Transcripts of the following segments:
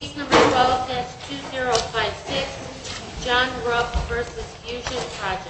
Case No. 12-2056, John Rupp v. Phusion Projects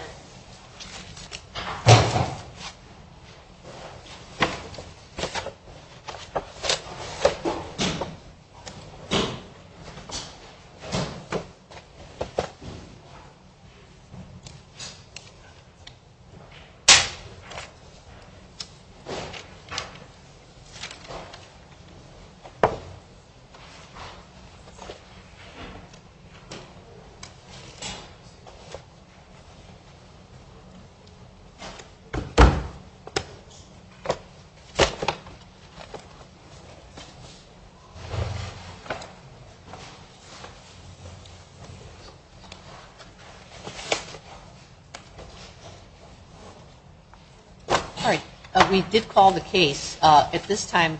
All right. We did call the case. At this time,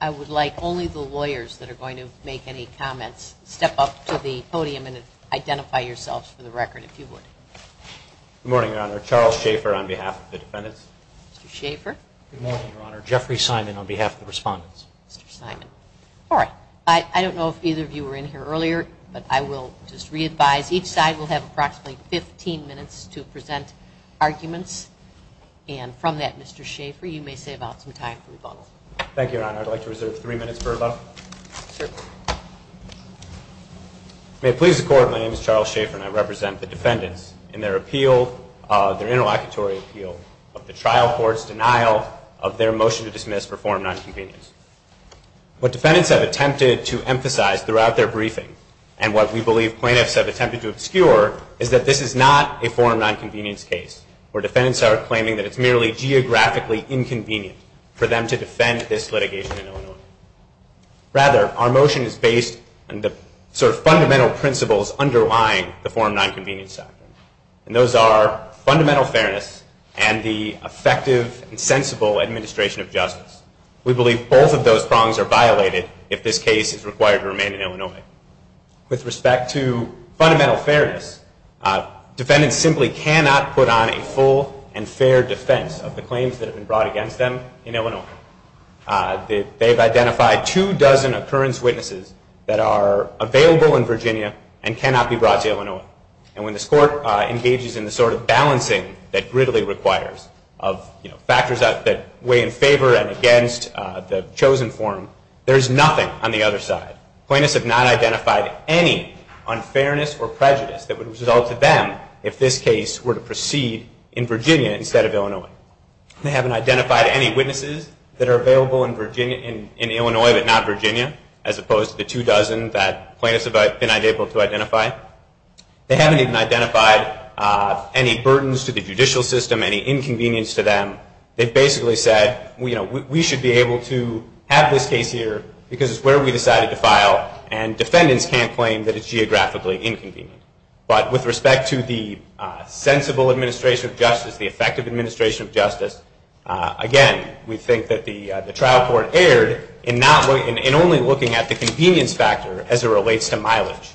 I would like only the lawyers that are going to make any comments step up to the podium and identify yourselves for the record, if you would. Good morning, Your Honor. Charles Schaffer on behalf of the defendants. Mr. Schaffer. Good morning, Your Honor. Jeffrey Simon on behalf of the respondents. Mr. Simon. All right. I don't know if either of you were in here earlier, but I will just readvise. Each side will have approximately 15 minutes to present arguments. And from that, Mr. Schaffer, you may save out some time for rebuttal. Thank you, Your Honor. I'd like to reserve three minutes for rebuttal. May it please the Court, my name is Charles Schaffer, and I represent the defendants in their appeal, their interlocutory appeal, of the trial court's denial of their motion to dismiss for form nonconvenience. What defendants have attempted to emphasize throughout their briefing and what we believe plaintiffs have attempted to obscure is that this is not a form nonconvenience case, where defendants are claiming that it's merely geographically inconvenient for them to defend this litigation in Illinois. Rather, our motion is based on the sort of fundamental principles underlying the form nonconvenience act. And those are fundamental fairness and the effective and sensible administration of justice. We believe both of those prongs are violated if this case is required to remain in Illinois. With respect to fundamental fairness, defendants simply cannot put on a full and fair defense of the claims that have been brought against them in Illinois. They've identified two dozen occurrence witnesses that are available in Virginia and cannot be brought to Illinois. And when this Court engages in the sort of balancing that Gridley requires of factors that weigh in favor and against the chosen form, there is nothing on the other side. Plaintiffs have not identified any unfairness or prejudice that would result to them if this case were to proceed in Virginia instead of Illinois. They haven't identified any witnesses that are available in Illinois but not Virginia, as opposed to the two dozen that plaintiffs have been able to identify. They haven't even identified any burdens to the judicial system, any inconvenience to them. They've basically said we should be able to have this case here because it's where we decided to file and defendants can't claim that it's geographically inconvenient. But with respect to the sensible administration of justice, the effective administration of justice, again, we think that the trial court erred in only looking at the convenience factor as it relates to mileage.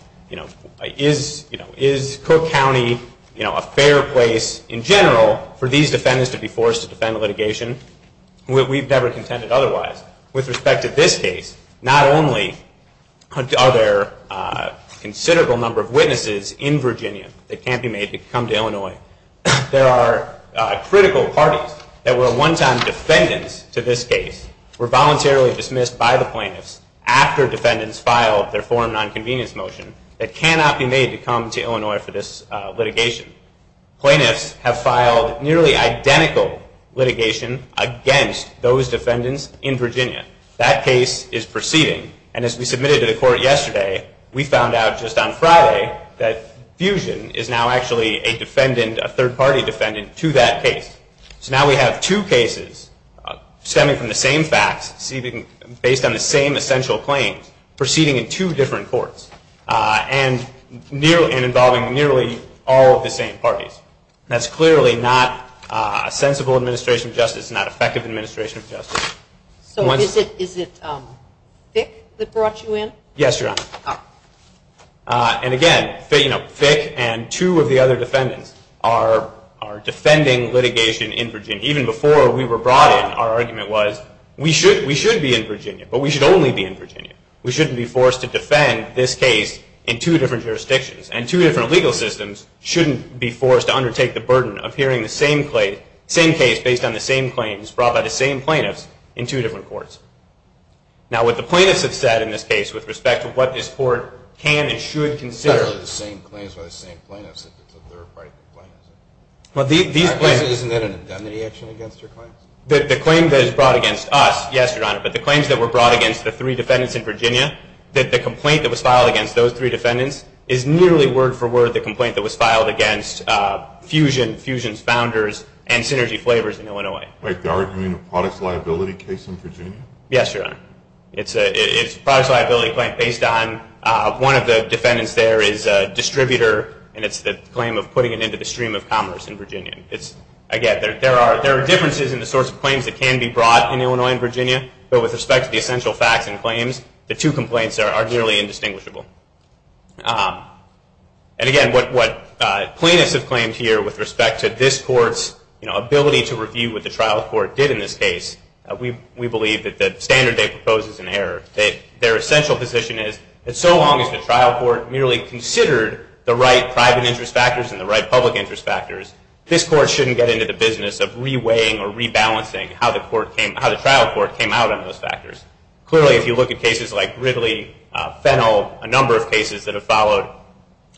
Is Cook County a fair place in general for these defendants to be forced to defend litigation? We've never contended otherwise. With respect to this case, not only are there a considerable number of witnesses in Virginia that can't be made to come to Illinois, there are critical parties that were one-time defendants to this case, were voluntarily dismissed by the plaintiffs after defendants filed their form of nonconvenience motion that cannot be made to come to Illinois for this litigation. Plaintiffs have filed nearly identical litigation against those defendants in Virginia. That case is proceeding. And as we submitted to the court yesterday, we found out just on Friday that Fusion is now actually a defendant, a third-party defendant, to that case. So now we have two cases stemming from the same facts, based on the same essential claims, proceeding in two different courts, and involving nearly all of the same parties. That's clearly not a sensible administration of justice, not effective administration of justice. So is it Fick that brought you in? Yes, Your Honor. And again, Fick and two of the other defendants are defending litigation in Virginia. Even before we were brought in, our argument was, we should be in Virginia, but we should only be in Virginia. We shouldn't be forced to defend this case in two different jurisdictions. And two different legal systems shouldn't be forced to undertake the burden of hearing the same case, based on the same claims, brought by the same plaintiffs, in two different courts. Now what the plaintiffs have said in this case, with respect to what this court can and should consider- It's not really the same claims by the same plaintiffs, it's the third-party plaintiffs. Isn't that an indemnity action against your claims? The claim that is brought against us, yes, Your Honor, but the claims that were brought against the three defendants in Virginia, that the complaint that was filed against those three defendants, is nearly word for word the complaint that was filed against Fusion, Fusion's founders, and Synergy Flavors in Illinois. Wait, they're arguing a products liability case in Virginia? Yes, Your Honor. It's a products liability claim based on, one of the defendants there is a distributor, and it's the claim of putting it into the stream of commerce in Virginia. Again, there are differences in the sorts of claims that can be brought in Illinois and Virginia, but with respect to the essential facts and claims, the two complaints are nearly indistinguishable. And again, what plaintiffs have claimed here, with respect to this court's ability to review what the trial court did in this case, we believe that the standard they propose is inherent. Their essential position is, that so long as the trial court merely considered the right private interest factors and the right public interest factors, this court shouldn't get into the business of re-weighing or re-balancing how the trial court came out on those factors. Clearly, if you look at cases like Gridley, Fennell, a number of cases that have followed,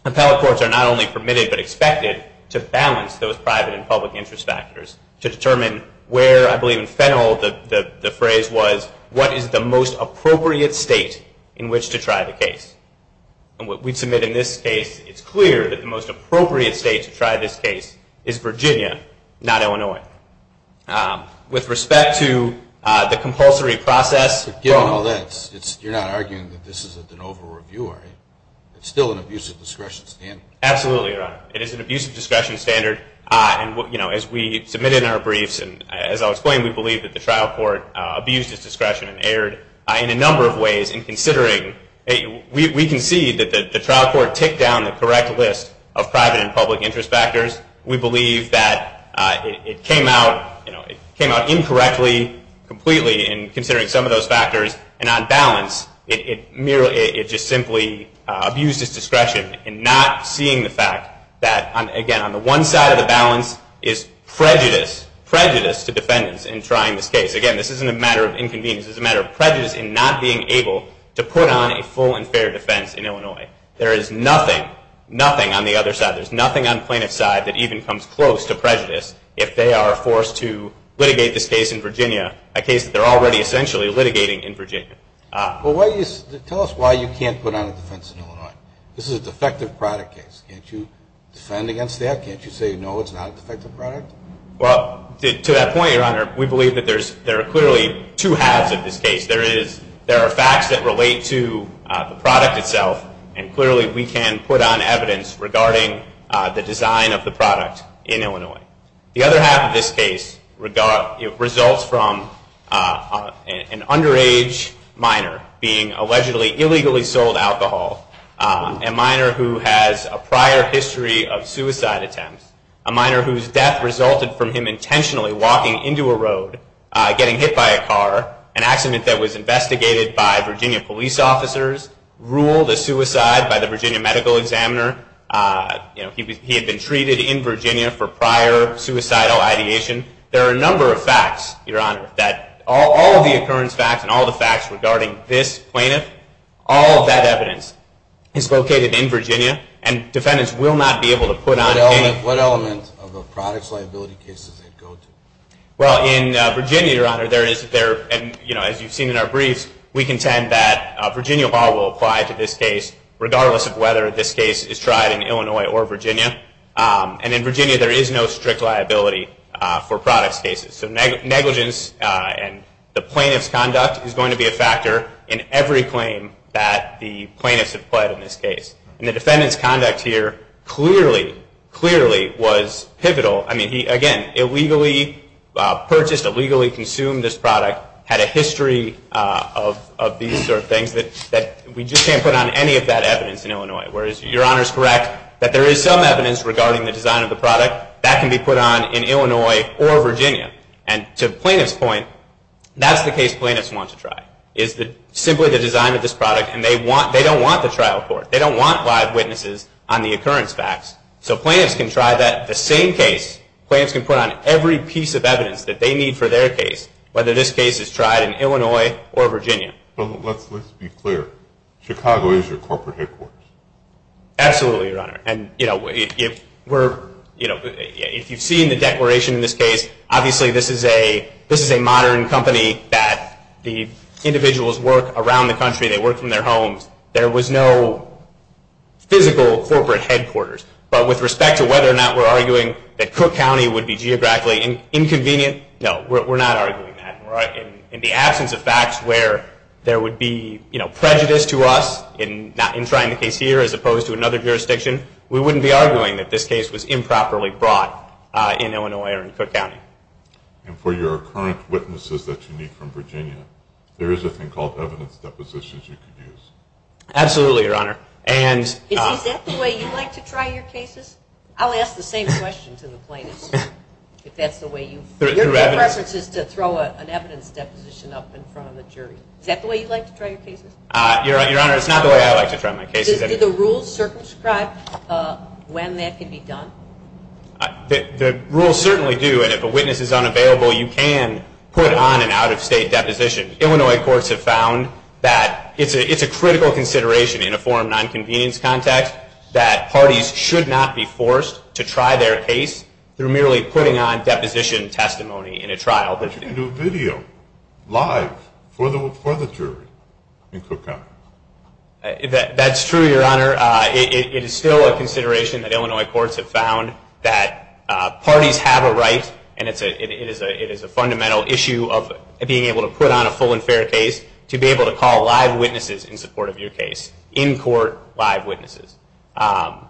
appellate courts are not only permitted, but expected to balance those private and public interest factors to determine where, I believe in Fennell, the phrase was, what is the most appropriate state in which to try the case? And what we submit in this case, it's clear that the most appropriate state to try this case is Virginia, not Illinois. With respect to the compulsory process- But given all that, you're not arguing that this is an over-reviewer, it's still an abusive discretion standard. Absolutely, Your Honor. It is an abusive discretion standard, and as we submit in our briefs, and as I'll explain, we believe that the trial court abused its discretion and erred in a number of ways in We can see that the trial court ticked down the correct list of private and public interest factors. We believe that it came out incorrectly, completely, in considering some of those factors, and on balance, it just simply abused its discretion in not seeing the fact that, again, on the one side of the balance is prejudice, prejudice to defendants in trying this case. Again, this isn't a matter of inconvenience, this is a matter of prejudice in not being able to put on a full and fair defense in Illinois. There is nothing, nothing on the other side, there's nothing on plaintiff's side that even comes close to prejudice if they are forced to litigate this case in Virginia, a case that they're already, essentially, litigating in Virginia. Tell us why you can't put on a defense in Illinois. This is a defective product case, can't you defend against that, can't you say, no, it's not a defective product? To that point, Your Honor, we believe that there are clearly two halves of this case. There are facts that relate to the product itself, and clearly we can put on evidence regarding the design of the product in Illinois. The other half of this case results from an underage minor being allegedly illegally sold alcohol, a minor who has a prior history of suicide attempts, a minor whose death resulted from him intentionally walking into a road, getting hit by a car, an accident that was investigated by Virginia police officers, ruled a suicide by the Virginia medical examiner, he had been treated in Virginia for prior suicidal ideation. There are a number of facts, Your Honor, that all of the occurrence facts and all the facts regarding this plaintiff, all of that evidence is located in Virginia, and defendants will not be able to put on a case. What element of a product's liability case does it go to? Well, in Virginia, Your Honor, there is there, and as you've seen in our briefs, we contend that Virginia law will apply to this case regardless of whether this case is tried in Illinois or Virginia. And in Virginia, there is no strict liability for products cases. So negligence and the plaintiff's conduct is going to be a factor in every claim that the plaintiffs have pled in this case. And the defendant's conduct here clearly, clearly was pivotal. I mean, he, again, illegally purchased, illegally consumed this product, had a history of these sort of things that we just can't put on any of that evidence in Illinois. Whereas, Your Honor's correct that there is some evidence regarding the design of the product that can be put on in Illinois or Virginia. And to the plaintiff's point, that's the case plaintiffs want to try, is simply the design of this product. And they don't want the trial court. They don't want live witnesses on the occurrence facts. So plaintiffs can try that, the same case, plaintiffs can put on every piece of evidence that they need for their case, whether this case is tried in Illinois or Virginia. But let's be clear, Chicago is your corporate headquarters. Absolutely, Your Honor. And you know, if you've seen the declaration in this case, obviously this is a modern company that the individuals work around the country, they work from their homes. There was no physical corporate headquarters. But with respect to whether or not we're arguing that Cook County would be geographically inconvenient, no, we're not arguing that. In the absence of facts where there would be prejudice to us in trying the case here as opposed to another jurisdiction, we wouldn't be arguing that this case was improperly brought in Illinois or in Cook County. And for your current witnesses that you need from Virginia, there is a thing called evidence depositions you could use. Absolutely, Your Honor. Is that the way you like to try your cases? I'll ask the same question to the plaintiffs, if that's the way you... Your preference is to throw an evidence deposition up in front of the jury. Is that the way you like to try your cases? Your Honor, it's not the way I like to try my cases. Do the rules circumscribe when that can be done? The rules certainly do. And if a witness is unavailable, you can put on an out-of-state deposition. Illinois courts have found that it's a critical consideration in a forum non-convenience context that parties should not be forced to try their case through merely putting on deposition testimony in a trial. But you can do video, live, for the jury in Cook County. That's true, Your Honor. It is still a consideration that Illinois courts have found that parties have a right and it is a fundamental issue of being able to put on a full and fair case to be able to call live witnesses in support of your case. In court, live witnesses. I've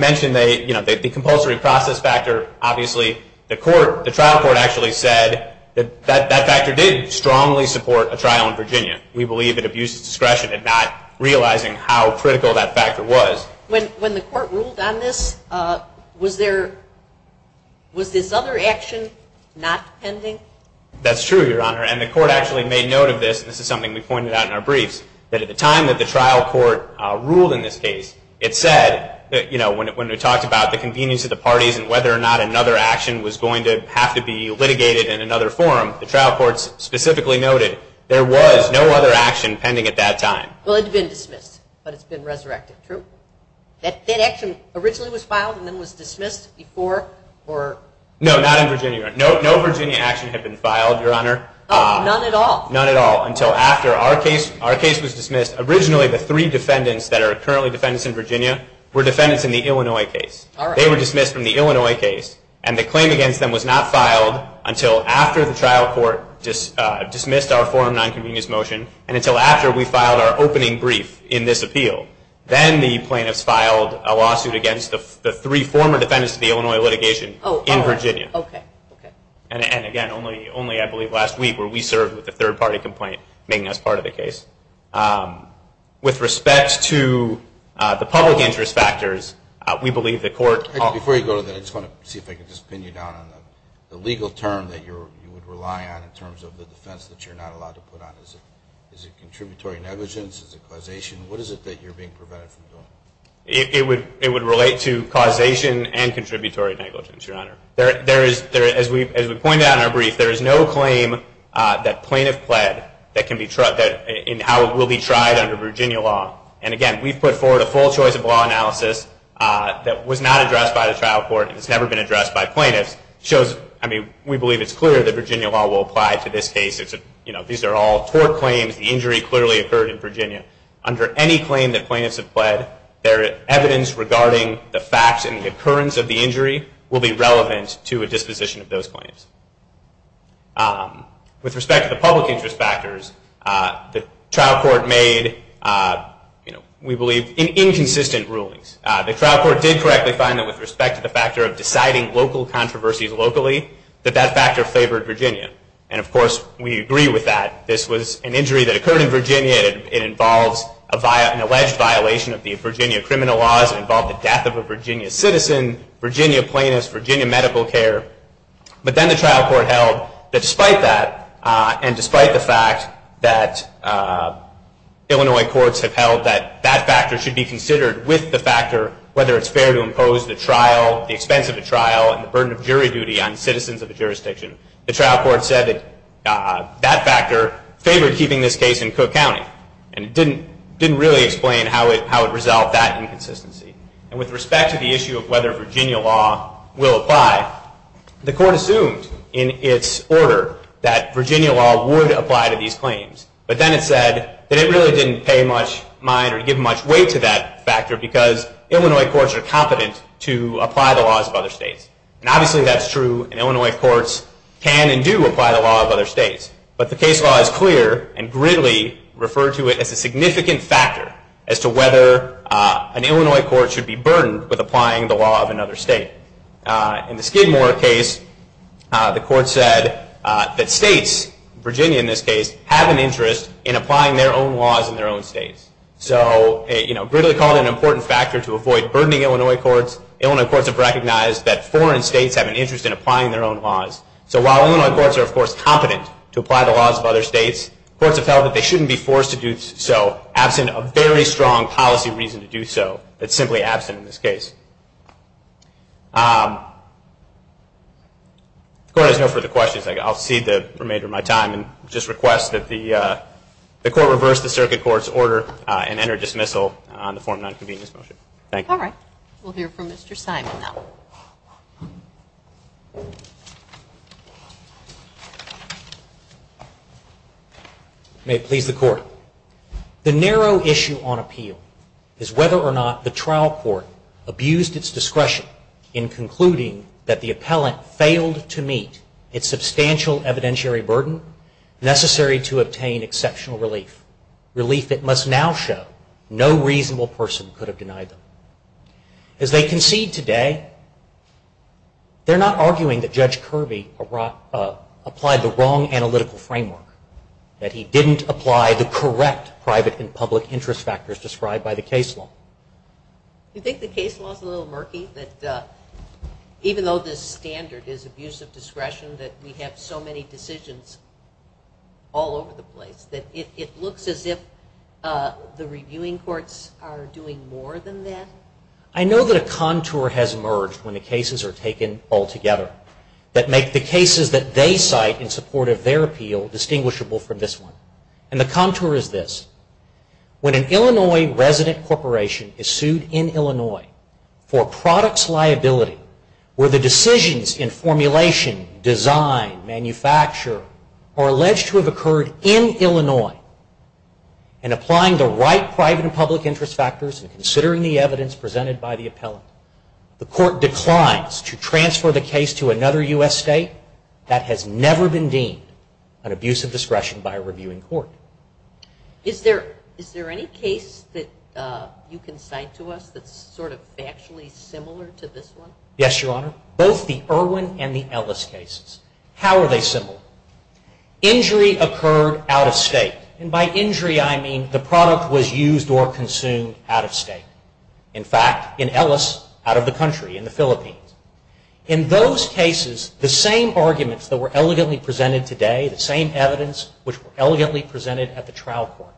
mentioned the compulsory process factor. Obviously, the trial court actually said that that factor did strongly support a trial in Virginia. We believe it abuses discretion in not realizing how critical that factor was. When the court ruled on this, was this other action not pending? That's true, Your Honor. And the court actually made note of this. This is something we pointed out in our briefs. That at the time that the trial court ruled in this case, it said, when we talked about the convenience of the parties and whether or not another action was going to have to be litigated in another forum, the trial court specifically noted there was no other action pending at that time. Well, it had been dismissed, but it's been resurrected. True? That action originally was filed and then was dismissed before? No, not in Virginia. No Virginia action had been filed, Your Honor. None at all? None at all, until after our case was dismissed. Originally, the three defendants that are currently defendants in Virginia were defendants in the Illinois case. They were dismissed from the Illinois case and the claim against them was not filed until after the trial court dismissed our forum nonconvenience motion and until after we filed our opening brief in this appeal. Then the plaintiffs filed a lawsuit against the three former defendants of the Illinois litigation in Virginia. Oh, all right. And again, only I believe last week where we served with a third party complaint making us part of the case. With respect to the public interest factors, we believe the court... Before you go to that, I just want to see if I can just pin you down on the legal term that you would rely on in terms of the defense that you're not allowed to put on. Is it contributory negligence? Is it causation? What is it that you're being prevented from doing? It would relate to causation and contributory negligence, Your Honor. As we pointed out in our brief, there is no claim that plaintiff pled in how it will be tried under Virginia law. And again, we've put forward a full choice of law analysis that was not addressed by the trial court and has never been addressed by plaintiffs. We believe it's clear that Virginia law will apply to this case. These are all tort claims. The injury clearly occurred in Virginia. Under any claim that plaintiffs have pled, their evidence regarding the facts and the occurrence of the injury will be relevant to a disposition of those claims. With respect to the public interest factors, the trial court made, we believe, inconsistent rulings. The trial court did correctly find that with respect to the factor of deciding local controversies locally, that that factor favored Virginia. And of course, we agree with that. This was an injury that occurred in Virginia. It involves an alleged violation of the Virginia criminal laws. It involved the death of a Virginia citizen, Virginia plaintiffs, Virginia medical care. But then the trial court held that despite that and despite the fact that Illinois courts have held that that factor should be considered with the factor whether it's fair to impose the trial, the expense of a trial, and the burden of jury duty on citizens of a jurisdiction, the trial court said that that factor favored keeping this case in Cook County. And it didn't really explain how it resolved that inconsistency. And with respect to the issue of whether Virginia law will apply, the court assumed in its order that Virginia law would apply to these claims. But then it said that it really didn't pay much mind or give much weight to that factor because Illinois courts are competent to apply the laws of other states. And obviously that's true, and Illinois courts can and do apply the law of other states. But the case law is clear and greatly referred to it as a significant factor as to whether an Illinois court should be burdened with applying the law of another state. In the Skidmore case, the court said that states, Virginia in this case, have an interest in applying their own laws in their own states. So it really called it an important factor to avoid burdening Illinois courts. Illinois courts have recognized that foreign states have an interest in applying their own laws. So while Illinois courts are, of course, competent to apply the laws of other states, courts have felt that they shouldn't be forced to do so absent of very strong policy reason to do so. It's simply absent in this case. If the court has no further questions, I'll cede the remainder of my time and just request that the court reverse the circuit court's order and enter dismissal on the form of non-convenience motion. Thank you. All right. We'll hear from Mr. Simon now. May it please the Court. The narrow issue on appeal is whether or not the trial court abused its discretion in concluding that the appellant failed to meet its substantial evidentiary burden necessary to obtain exceptional relief, relief it must now show no reasonable person could have denied them. As they concede today, they're not arguing that Judge Kirby applied the wrong analytical framework, that he didn't apply the correct private and public interest factors described by the case law. Do you think the case law is a little murky, that even though this standard is abuse of discretion, that we have so many decisions all over the place, that it looks as if the reviewing courts are doing more than that? I know that a contour has emerged when the cases are taken all together that make the cases that they cite in support of their appeal distinguishable from this one. And the contour is this. When an Illinois resident corporation is sued in Illinois for products liability where the decisions in formulation, design, manufacture are alleged to have occurred in Illinois and applying the right private and public interest factors and considering the evidence presented by the appellant, the court declines to transfer the case to another U.S. state that has never been deemed an abuse of court. Is there any case that you can cite to us that's sort of factually similar to this one? Yes, Your Honor. Both the Irwin and the Ellis cases. How are they similar? Injury occurred out of state. And by injury, I mean the product was used or consumed out of state. In fact, in Ellis, out of the country, in the Philippines. In those cases, the same arguments that were elegantly presented today, the same evidence which were elegantly presented at the trial court,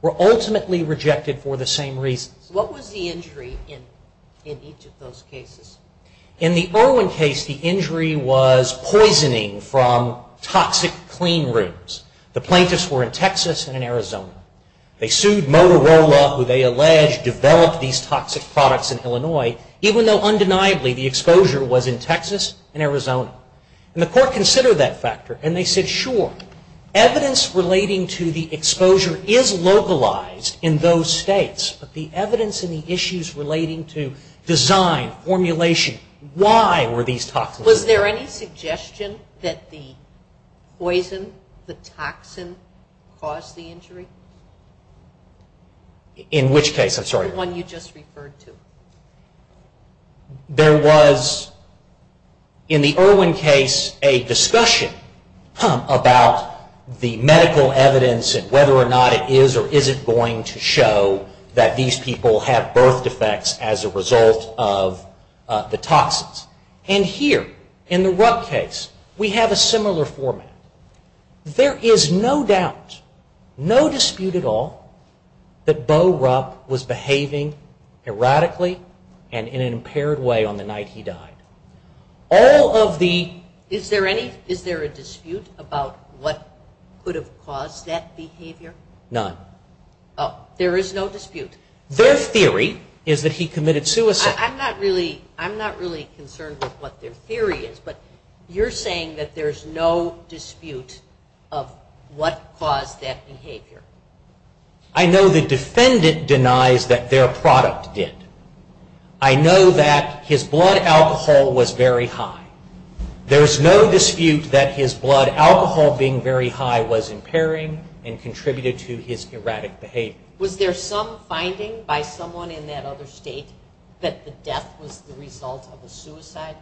were ultimately rejected for the same reasons. What was the injury in each of those cases? In the Irwin case, the injury was poisoning from toxic clean rooms. The plaintiffs were in Texas and in Arizona. They sued Motorola who they allege developed these toxic products in Illinois even though undeniably the exposure was in Texas and Arizona. And the court considered that factor. And they said, sure, evidence relating to the exposure is localized in those states. But the evidence in the issues relating to design, formulation, why were these toxins? Was there any suggestion that the poison, the toxin, caused the injury? In which case? I'm sorry. The one you just referred to. There was, in the Irwin case, a discussion about the medical evidence and whether or not it is or isn't going to show that these people have birth defects as a result of the toxins. And here, in the Rupp case, we have a similar format. There is no doubt, no dispute at all, that Bo Rupp was behaving erratically and in an impaired way on the night he died. All of the... Is there a dispute about what could have caused that behavior? None. There is no dispute. Their theory is that he committed suicide. I'm not really concerned with what their theory is. But you're saying that there's no dispute of what caused that behavior? I know the defendant denies that their product did. I know that his blood alcohol was very high. There's no dispute that his blood alcohol being very high was impairing and contributed to his erratic behavior. Was there some finding by someone in that other state that the death was the result of a suicide?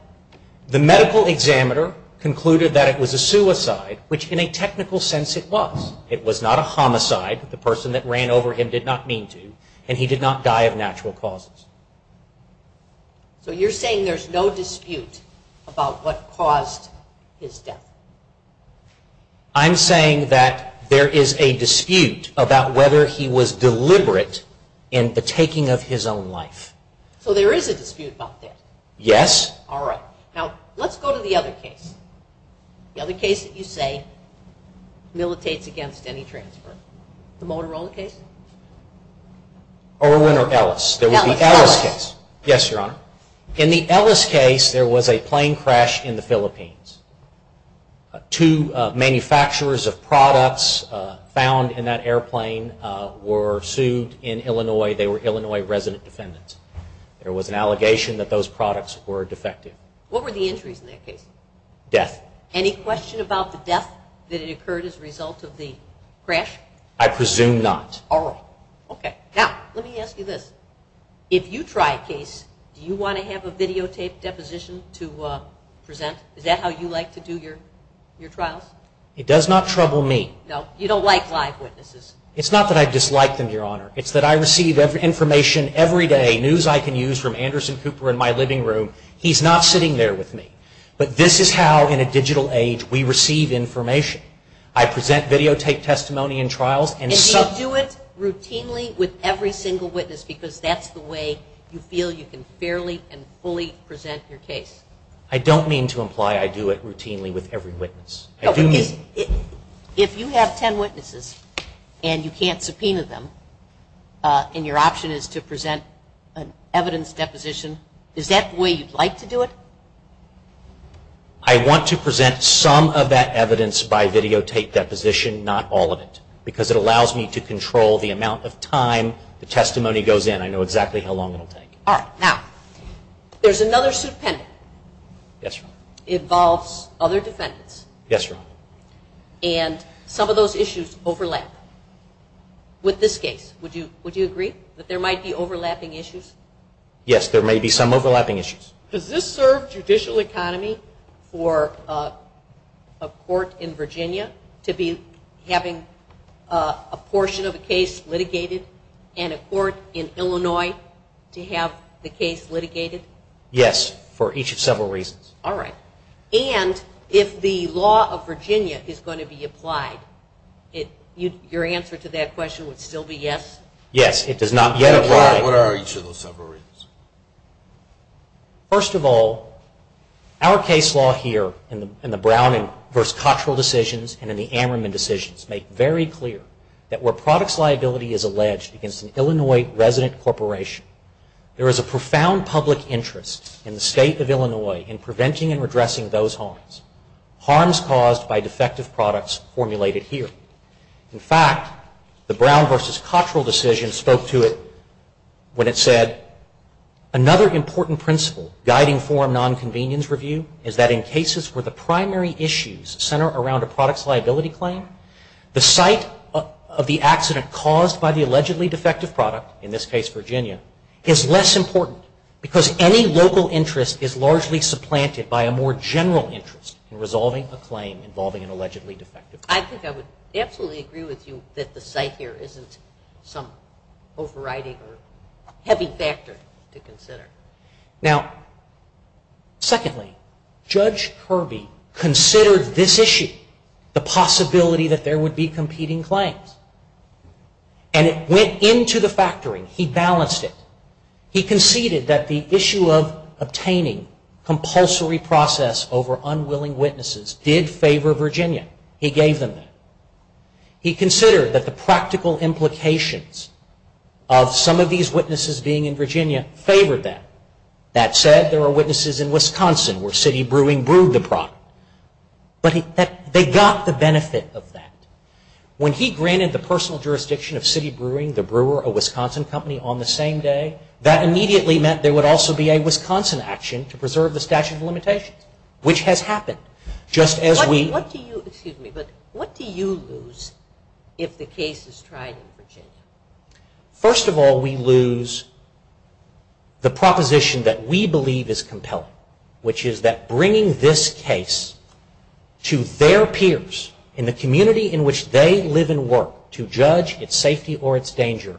The medical examiner concluded that it was a suicide, which in a technical sense it was. It was not a homicide. The person that ran over him did not mean to, and he did not die of natural causes. So you're saying there's no dispute about what caused his death? I'm saying that there is a dispute about whether he was deliberate in the taking of his own life. So there is a dispute about that? Yes. All right. Now let's go to the other case. The other case that you say militates against any transfer. The Motorola case? Irwin or Ellis? Ellis. There was the Ellis case. Yes, Your Honor. In the Ellis case there was a plane crash in the Philippines. Two manufacturers of products found in that airplane were sued in Illinois. They were Illinois resident defendants. There was an allegation that those products were defective. What were the injuries in that case? Death. Any question about the death that occurred as a result of the crash? I presume not. All right. Okay. Now let me ask you this. If you try a case, do you want to have a videotaped deposition to present? Is that how you like to do your trials? It does not trouble me. No? You don't like live witnesses? It's not that I dislike them, Your Honor. It's that I receive information every day, news I can use from Anderson Cooper in my living room. He's not sitting there with me. But this is how, in a digital age, we receive information. I present videotaped testimony in trials. And do you do it routinely with every single witness because that's the way you feel you can fairly and fully present your case? If you have ten witnesses and you can't subpoena them and your option is to present an evidence deposition, is that the way you'd like to do it? I want to present some of that evidence by videotaped deposition, not all of it, because it allows me to control the amount of time the testimony goes in. I know exactly how long it will take. All right. Yes, Your Honor. And some of those issues overlap. With this case, would you agree that there might be overlapping issues? Yes, there may be some overlapping issues. Does this serve judicial economy for a court in Virginia to be having a portion of a case litigated and a court in Illinois to have the case litigated? Yes, for each of several reasons. All right. And if the law of Virginia is going to be applied, your answer to that question would still be yes? Yes. It does not yet apply. What are each of those several reasons? First of all, our case law here in the Brown v. Cottrell decisions and in the Ammerman decisions make very clear that where products liability is alleged against an Illinois resident corporation, there is a profound public interest in the State of Illinois in preventing and redressing those harms, harms caused by defective products formulated here. In fact, the Brown v. Cottrell decision spoke to it when it said, another important principle guiding forum nonconvenience review is that in cases where the primary issues center around a product's liability claim, the site of the accident caused by the allegedly defective product, in this case Virginia, is less important because any local interest is largely supplanted by a more general interest in resolving a claim involving an allegedly defective product. I think I would absolutely agree with you that the site here isn't some overriding or heavy factor to consider. Now, secondly, Judge Kirby considered this issue the possibility that there would be competing claims. And it went into the factoring. He balanced it. He conceded that the issue of obtaining compulsory process over unwilling witnesses did favor Virginia. He gave them that. He considered that the practical implications of some of these witnesses being in Virginia favored that. That said, there are witnesses in Wisconsin where city brewing brewed the product. But they got the benefit of that. When he granted the personal jurisdiction of city brewing, the brewer, a Wisconsin company on the same day, that immediately meant there would also be a Wisconsin action to preserve the statute of limitations, which has happened. What do you lose if the case is tried in Virginia? First of all, we lose the proposition that we believe is compelling, which is that bringing this case to their peers in the community in which they live and work to judge its safety or its danger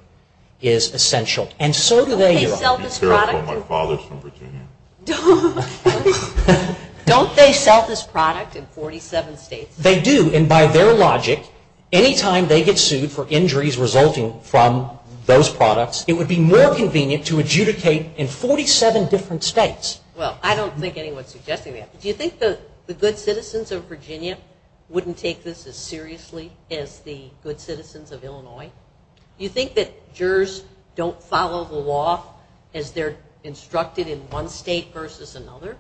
is essential. And so do they. Don't they sell this product in 47 states? They do. And by their logic, any time they get sued for injuries resulting from those products, it would be more convenient to adjudicate in 47 different states. Well, I don't think anyone is suggesting that. Do you think the good citizens of Virginia wouldn't take this as seriously as the good citizens of Illinois? Do you think that jurors don't follow the law as they're instructed in one state versus another?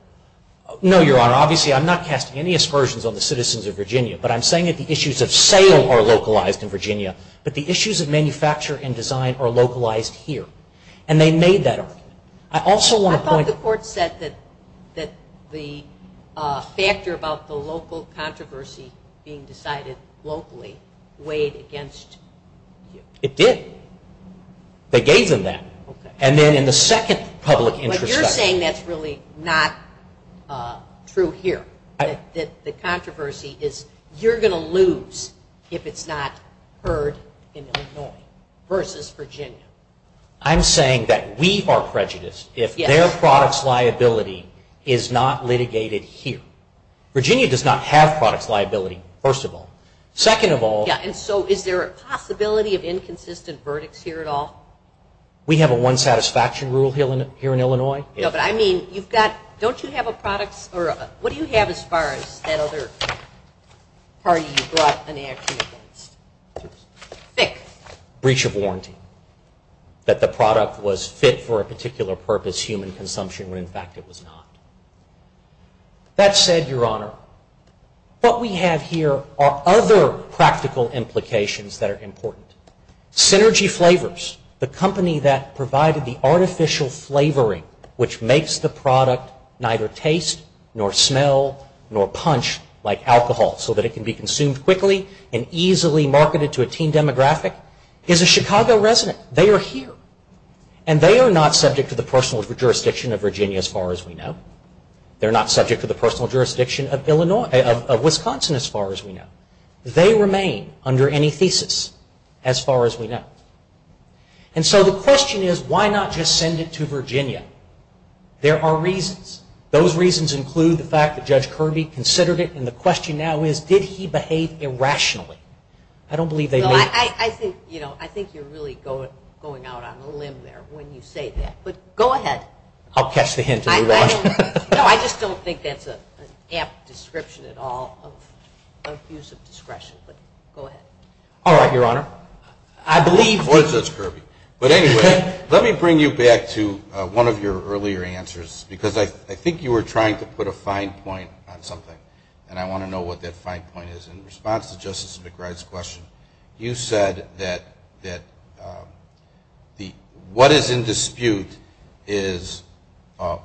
No, Your Honor. Obviously, I'm not casting any aspersions on the citizens of Virginia, but I'm saying that the issues of sale are localized in Virginia, but the issues of manufacture and design are localized here. And they made that argument. I thought the court said that the factor about the local controversy being decided locally weighed against you. It did. They gave them that. And then in the second public introspection. But you're saying that's really not true here, that the controversy is you're going to lose if it's not heard in Illinois versus Virginia. I'm saying that we are prejudiced if their product's liability is not litigated here. Virginia does not have product's liability, first of all. Second of all. Yeah, and so is there a possibility of inconsistent verdicts here at all? We have a one satisfaction rule here in Illinois. Yeah, but I mean, you've got, don't you have a product's, or what do you have as far as that other party you brought an action against? Thick breach of warranty that the product was fit for a particular purpose, human consumption, when in fact it was not. That said, Your Honor, what we have here are other practical implications that are important. Synergy Flavors, the company that provided the artificial flavoring, which makes the product neither taste nor smell nor punch like alcohol, so that it can be consumed quickly and easily marketed to a teen demographic, is a Chicago resident. They are here. And they are not subject to the personal jurisdiction of Virginia as far as we know. They're not subject to the personal jurisdiction of Wisconsin as far as we know. They remain under any thesis as far as we know. And so the question is, why not just send it to Virginia? There are reasons. Those reasons include the fact that Judge Kirby considered it, and the question now is, did he behave irrationally? I don't believe they made it. I think you're really going out on a limb there when you say that. But go ahead. I'll catch the hint as we watch. No, I just don't think that's an apt description at all of use of discretion. But go ahead. All right, Your Honor. I believe Judge Kirby. But anyway, let me bring you back to one of your earlier answers because I think you were trying to put a fine point on something, and I want to know what that fine point is. In response to Justice McBride's question, you said that what is in dispute is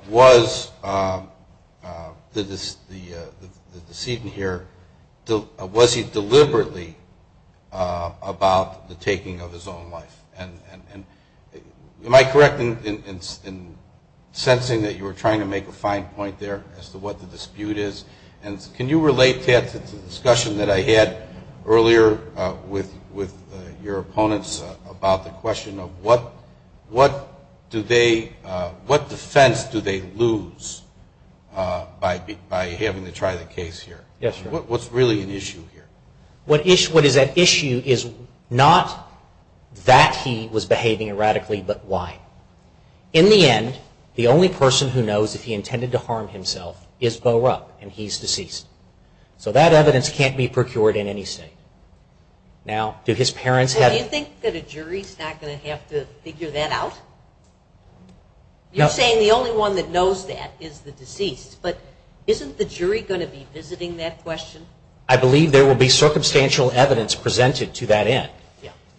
was the decedent here, was he deliberately about the taking of his own life? Am I correct in sensing that you were trying to make a fine point there as to what the dispute is? And can you relate that to the discussion that I had earlier with your opponents about the question of what defense do they lose by having to try the case here? Yes, Your Honor. What's really an issue here? What is at issue is not that he was behaving erratically, but why? In the end, the only person who knows if he intended to harm himself is Bo Rupp, and he's deceased. So that evidence can't be procured in any state. Now, do his parents have... Well, do you think that a jury's not going to have to figure that out? You're saying the only one that knows that is the deceased, but isn't the jury going to be visiting that question? I believe there will be circumstantial evidence presented to that end.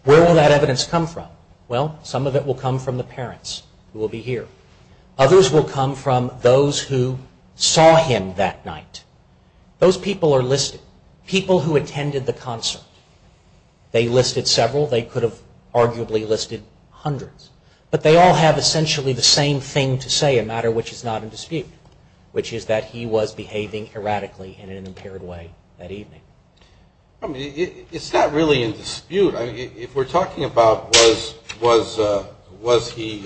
Where will that evidence come from? Well, some of it will come from the parents who will be here. Others will come from those who saw him that night. Those people are listed, people who attended the concert. They listed several. They could have arguably listed hundreds. But they all have essentially the same thing to say, a matter which is not in dispute, which is that he was behaving erratically in an impaired way that evening. It's not really in dispute. If we're talking about was he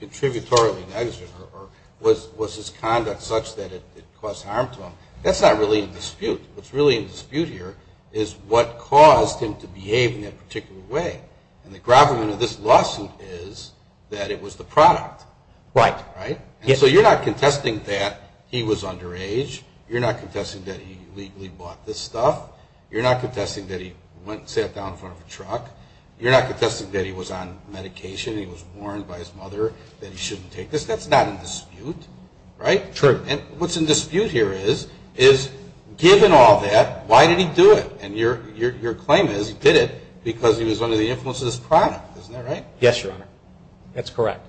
contributorily negligent or was his conduct such that it caused harm to him, that's not really in dispute. What's really in dispute here is what caused him to behave in that particular way. And the gravamen of this lawsuit is that it was the product. Right. And so you're not contesting that he was underage. You're not contesting that he illegally bought this stuff. You're not contesting that he went and sat down in front of a truck. You're not contesting that he was on medication and he was warned by his mother that he shouldn't take this. That's not in dispute. Right. True. And what's in dispute here is, given all that, why did he do it? And your claim is he did it because he was under the influence of this product. Isn't that right? Yes, Your Honor. That's correct.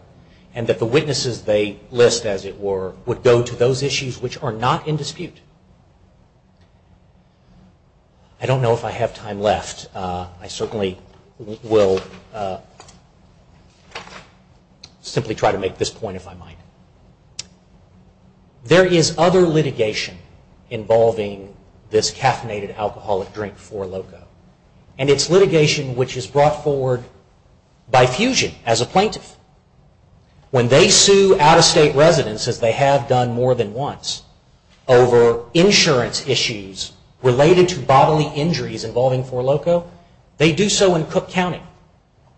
And that the witnesses they list, as it were, would go to those issues which are not in dispute. I don't know if I have time left. I certainly will simply try to make this point if I might. There is other litigation involving this caffeinated alcoholic drink for Loco. And it's litigation which is brought forward by Fusion as a plaintiff. When they sue out-of-state residents, as they have done more than once, over insurance issues related to bodily injuries involving For Loco, they do so in Cook County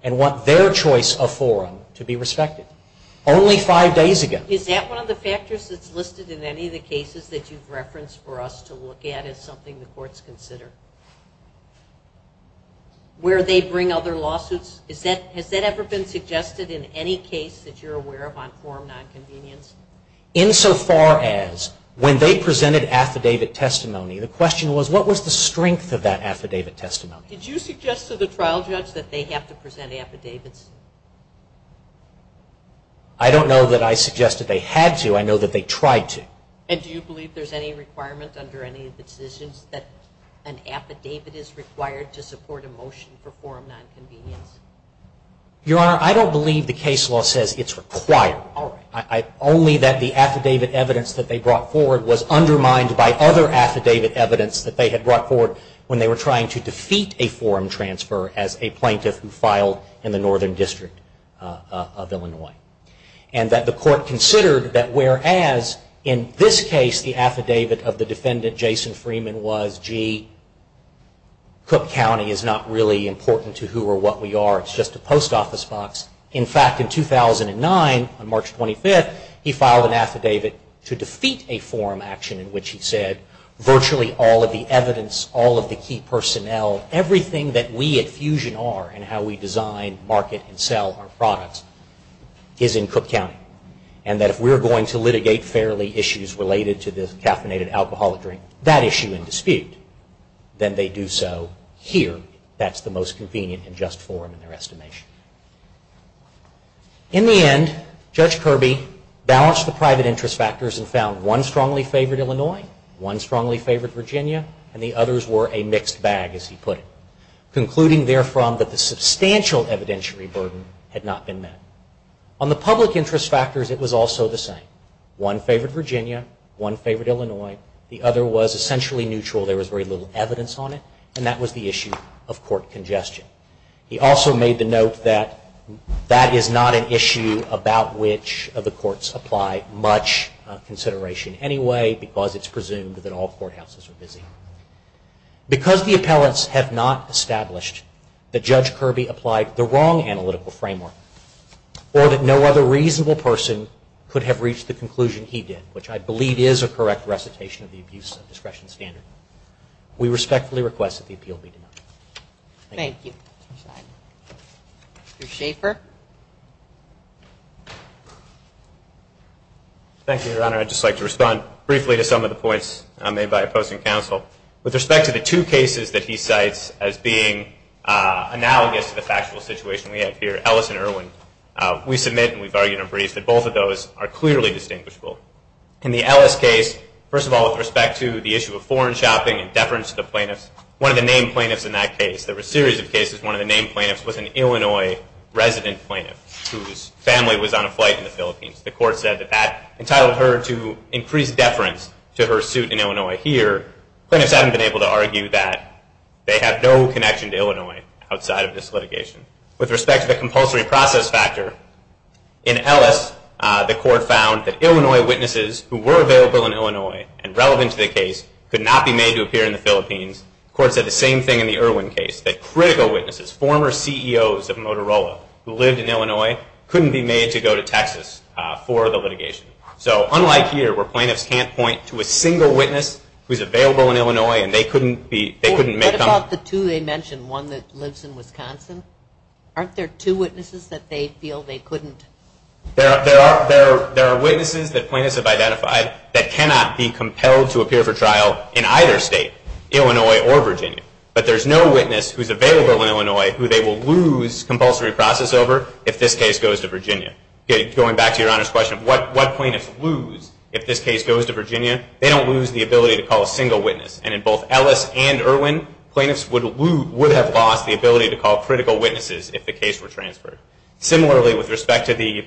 and want their choice of forum to be respected. Only five days ago. Is that one of the factors that's listed in any of the cases that you've referenced for us to look at as something the courts consider? Where they bring other lawsuits? Has that ever been suggested in any case that you're aware of on forum nonconvenience? In so far as when they presented affidavit testimony, the question was what was the strength of that affidavit testimony? Did you suggest to the trial judge that they have to present affidavits? I don't know that I suggested they had to. I know that they tried to. And do you believe there's any requirement under any of the decisions that an affidavit is required to support a motion for forum nonconvenience? Your Honor, I don't believe the case law says it's required. Only that the affidavit evidence that they brought forward was undermined by other affidavit evidence that they had brought forward when they were trying to defeat a forum transfer as a plaintiff who filed in the Northern District of Illinois. And that the court considered that whereas in this case the affidavit of the defendant, Jason Freeman, was gee, Cook County is not really important to who or what we are. It's just a post office box. In fact, in 2009, on March 25th, he filed an affidavit to defeat a forum action in which he said virtually all of the evidence, all of the key personnel, everything that we at Fusion are in how we design, market, and sell our products is in Cook County. And that if we're going to litigate fairly issues related to this caffeinated alcoholic drink, that issue in dispute, then they do so here. That's the most convenient and just forum in their estimation. In the end, Judge Kirby balanced the private interest factors and found one strongly favored Illinois, one strongly favored Virginia, and the others were a mixed bag, as he put it. Concluding therefrom that the substantial evidentiary burden had not been met. On the public interest factors, it was also the same. One favored Virginia, one favored Illinois, the other was essentially neutral. There was very little evidence on it, and that was the issue of court congestion. He also made the note that that is not an issue about which of the courts apply much consideration anyway because it's presumed that all courthouses are busy. Because the appellants have not established that Judge Kirby applied the wrong analytical framework or that no other reasonable person could have reached the conclusion he did, which I believe is a correct recitation of the abuse of discretion standard, we respectfully request that the appeal be denied. Thank you. Mr. Schaffer. Thank you, Your Honor. I'd just like to respond briefly to some of the points made by opposing counsel. With respect to the two cases that he cites as being analogous to the factual situation we have here, Ellis and Irwin, we submit and we've argued in brief that both of those are clearly distinguishable. In the Ellis case, first of all, with respect to the issue of foreign shopping and deference to the plaintiffs, one of the named plaintiffs in that case, one of the named plaintiffs was an Illinois resident plaintiff whose family was on a flight in the Philippines. The court said that that entitled her to increased deference to her suit in Illinois. Here, plaintiffs haven't been able to argue that they have no connection to Illinois outside of this litigation. With respect to the compulsory process factor, in Ellis, the court found that Illinois witnesses who were available in Illinois and relevant to the case could not be made to appear in the Philippines. The court said the same thing in the Irwin case, that critical witnesses, former CEOs of Motorola, who lived in Illinois, couldn't be made to go to Texas for the litigation. So unlike here, where plaintiffs can't point to a single witness who is available in Illinois and they couldn't make them. What about the two they mentioned, one that lives in Wisconsin? Aren't there two witnesses that they feel they couldn't? There are witnesses that plaintiffs have identified that cannot be compelled to appear for trial in either state, Illinois or Virginia. But there's no witness who's available in Illinois who they will lose compulsory process over if this case goes to Virginia. Going back to Your Honor's question, what plaintiffs lose if this case goes to Virginia? They don't lose the ability to call a single witness. And in both Ellis and Irwin, plaintiffs would have lost the ability to call critical witnesses if the case were transferred. Similarly, with respect to the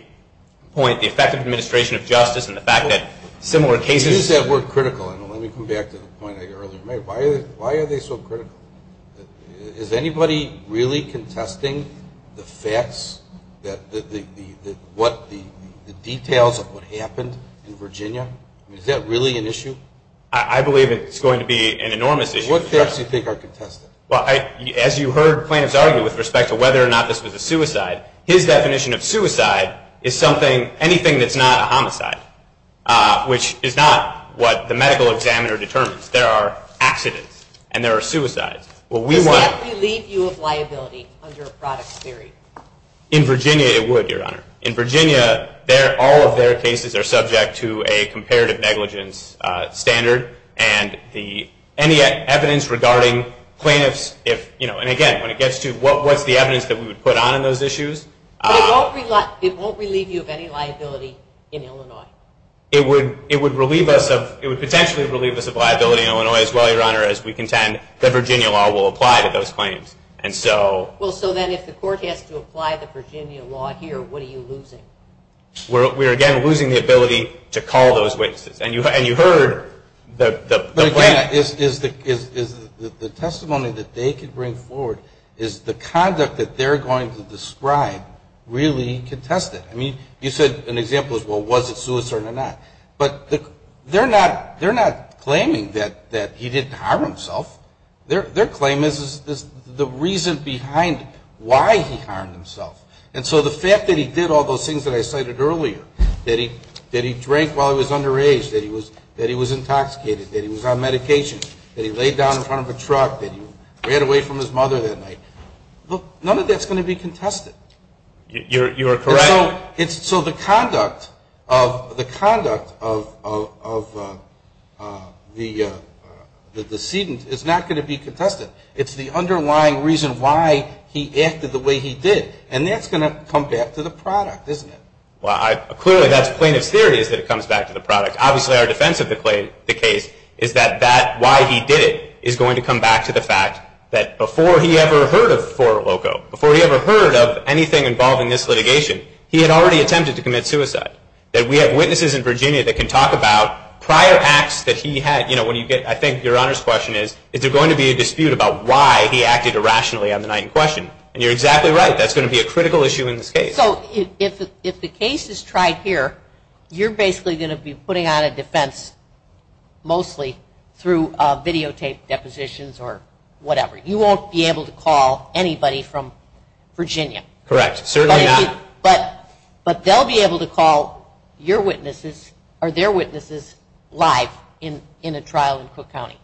point, the effect of administration of justice and the fact that similar cases... Why are they so critical? Let me come back to the point I earlier made. Why are they so critical? Is anybody really contesting the facts, the details of what happened in Virginia? Is that really an issue? I believe it's going to be an enormous issue. What facts do you think are contested? As you heard plaintiffs argue with respect to whether or not this was a suicide, his definition of suicide is anything that's not a homicide, which is not what the medical examiner determines. There are accidents, and there are suicides. Does that relieve you of liability under a product theory? In Virginia, it would, Your Honor. In Virginia, all of their cases are subject to a comparative negligence standard, and any evidence regarding plaintiffs... And again, when it gets to what's the evidence that we would put on in those issues... It won't relieve you of any liability in Illinois. It would potentially relieve us of liability in Illinois as well, Your Honor, as we contend that Virginia law will apply to those claims. Well, so then if the court has to apply the Virginia law here, what are you losing? We're, again, losing the ability to call those witnesses. And you heard the plaintiffs... The testimony that they could bring forward is the conduct that they're going to describe really contested. I mean, you said an example is, well, was it suicide or not? But they're not claiming that he didn't harm himself. Their claim is the reason behind why he harmed himself. And so the fact that he did all those things that I cited earlier, that he drank while he was underage, that he was intoxicated, that he was on medication, that he laid down in front of a truck, that he ran away from his mother that night, none of that's going to be contested. You're correct. So the conduct of the decedent is not going to be contested. It's the underlying reason why he acted the way he did. And that's going to come back to the product, isn't it? Well, clearly that's plaintiff's theory is that it comes back to the product. Obviously our defense of the case is that why he did it is going to come back to the fact that before he ever heard of Forloco, before he ever heard of anything involving this litigation, he had already attempted to commit suicide. That we have witnesses in Virginia that can talk about prior acts that he had. I think your Honor's question is, is there going to be a dispute about why he acted irrationally on the night in question? And you're exactly right. That's going to be a critical issue in this case. So if the case is tried here, you're basically going to be putting out a defense mostly through videotaped depositions or whatever. You won't be able to call anybody from Virginia. Correct, certainly not. But they'll be able to call your witnesses or their witnesses live in a trial in Cook County.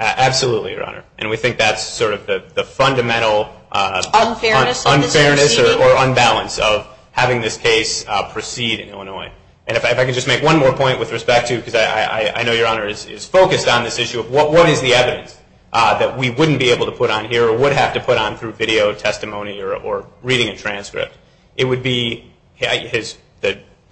Absolutely, Your Honor. And we think that's sort of the fundamental unfairness or unbalance of having this case proceed in Illinois. And if I could just make one more point with respect to, because I know your Honor is focused on this issue, of what is the evidence that we wouldn't be able to put on here or would have to put on through video testimony or reading a transcript. It would be his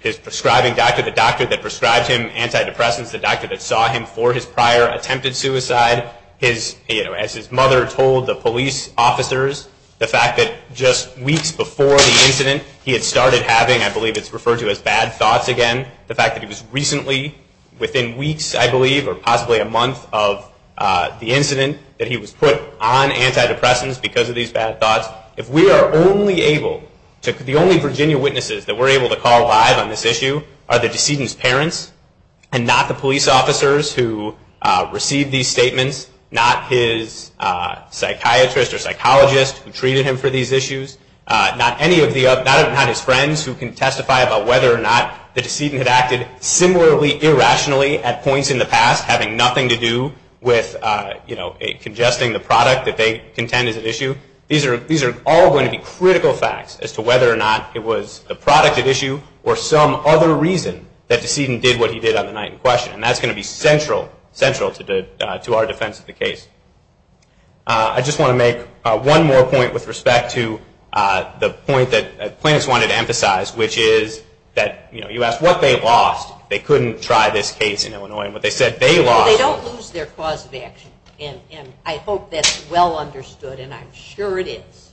prescribing doctor, the doctor that prescribed him antidepressants, the doctor that saw him for his prior attempted suicide, as his mother told the police officers, the fact that just weeks before the incident he had started having, I believe it's referred to as bad thoughts again, the fact that he was recently, within weeks I believe, or possibly a month of the incident, that he was put on antidepressants because of these bad thoughts. If we are only able, the only Virginia witnesses that we're able to call live on this issue are the decedent's parents and not the police officers who received these statements, not his psychiatrist or psychologist who treated him for these issues, not his friends who can testify about whether or not the decedent had acted similarly, irrationally at points in the past, having nothing to do with congesting the product that they contend is at issue. These are all going to be critical facts as to whether or not it was the product at issue or some other reason that decedent did what he did on the night in question, and that's going to be central to our defense of the case. I just want to make one more point with respect to the point that plaintiffs wanted to emphasize, which is that you asked what they lost. They couldn't try this case in Illinois, and what they said they lost. Well, they don't lose their cause of action, and I hope that's well understood, and I'm sure it is.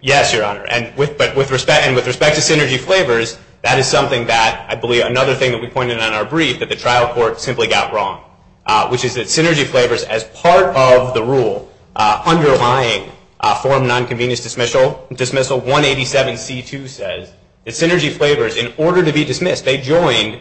Yes, Your Honor, and with respect to Synergy Flavors, that is something that, I believe, another thing that we pointed out in our brief that the trial court simply got wrong, which is that Synergy Flavors, as part of the rule underlying form nonconvenience dismissal, 187C2 says that Synergy Flavors, in order to be dismissed, they joined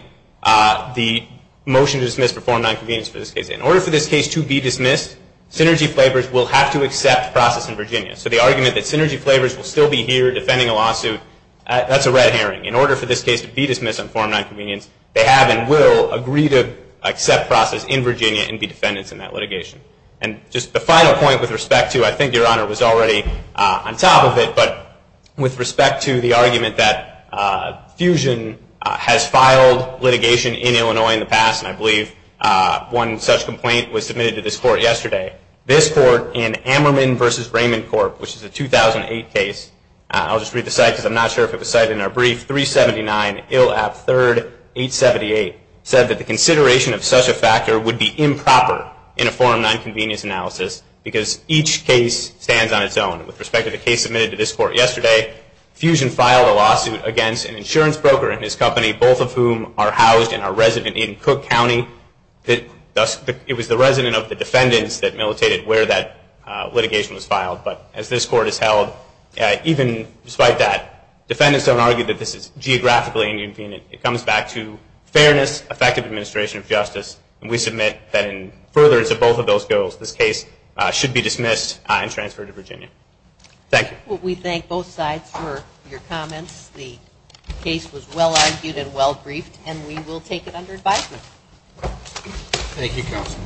the motion to dismiss for form nonconvenience for this case. In order for this case to be dismissed, Synergy Flavors will have to accept process in Virginia. So the argument that Synergy Flavors will still be here defending a lawsuit, that's a red herring. In order for this case to be dismissed on form nonconvenience, they have and will agree to accept process in Virginia and be defendants in that litigation. And just the final point with respect to, I think Your Honor was already on top of it, but with respect to the argument that Fusion has filed litigation in Illinois in the past, and I believe one such complaint was submitted to this court yesterday. This court in Ammerman v. Raymond Corp., which is a 2008 case, I'll just read the site because I'm not sure if it was cited in our brief, Ill App III 878 said that the consideration of such a factor would be improper in a form nonconvenience analysis because each case stands on its own. With respect to the case submitted to this court yesterday, Fusion filed a lawsuit against an insurance broker and his company, both of whom are housed and are resident in Cook County. It was the resident of the defendants that militated where that litigation was filed. But as this court has held, even despite that, defendants don't argue that this is geographically inconvenient. It comes back to fairness, effective administration of justice, and we submit that in furtherance of both of those goals, this case should be dismissed and transferred to Virginia. Thank you. Well, we thank both sides for your comments. The case was well-argued and well-briefed, and we will take it under advisement. Thank you, Counsel.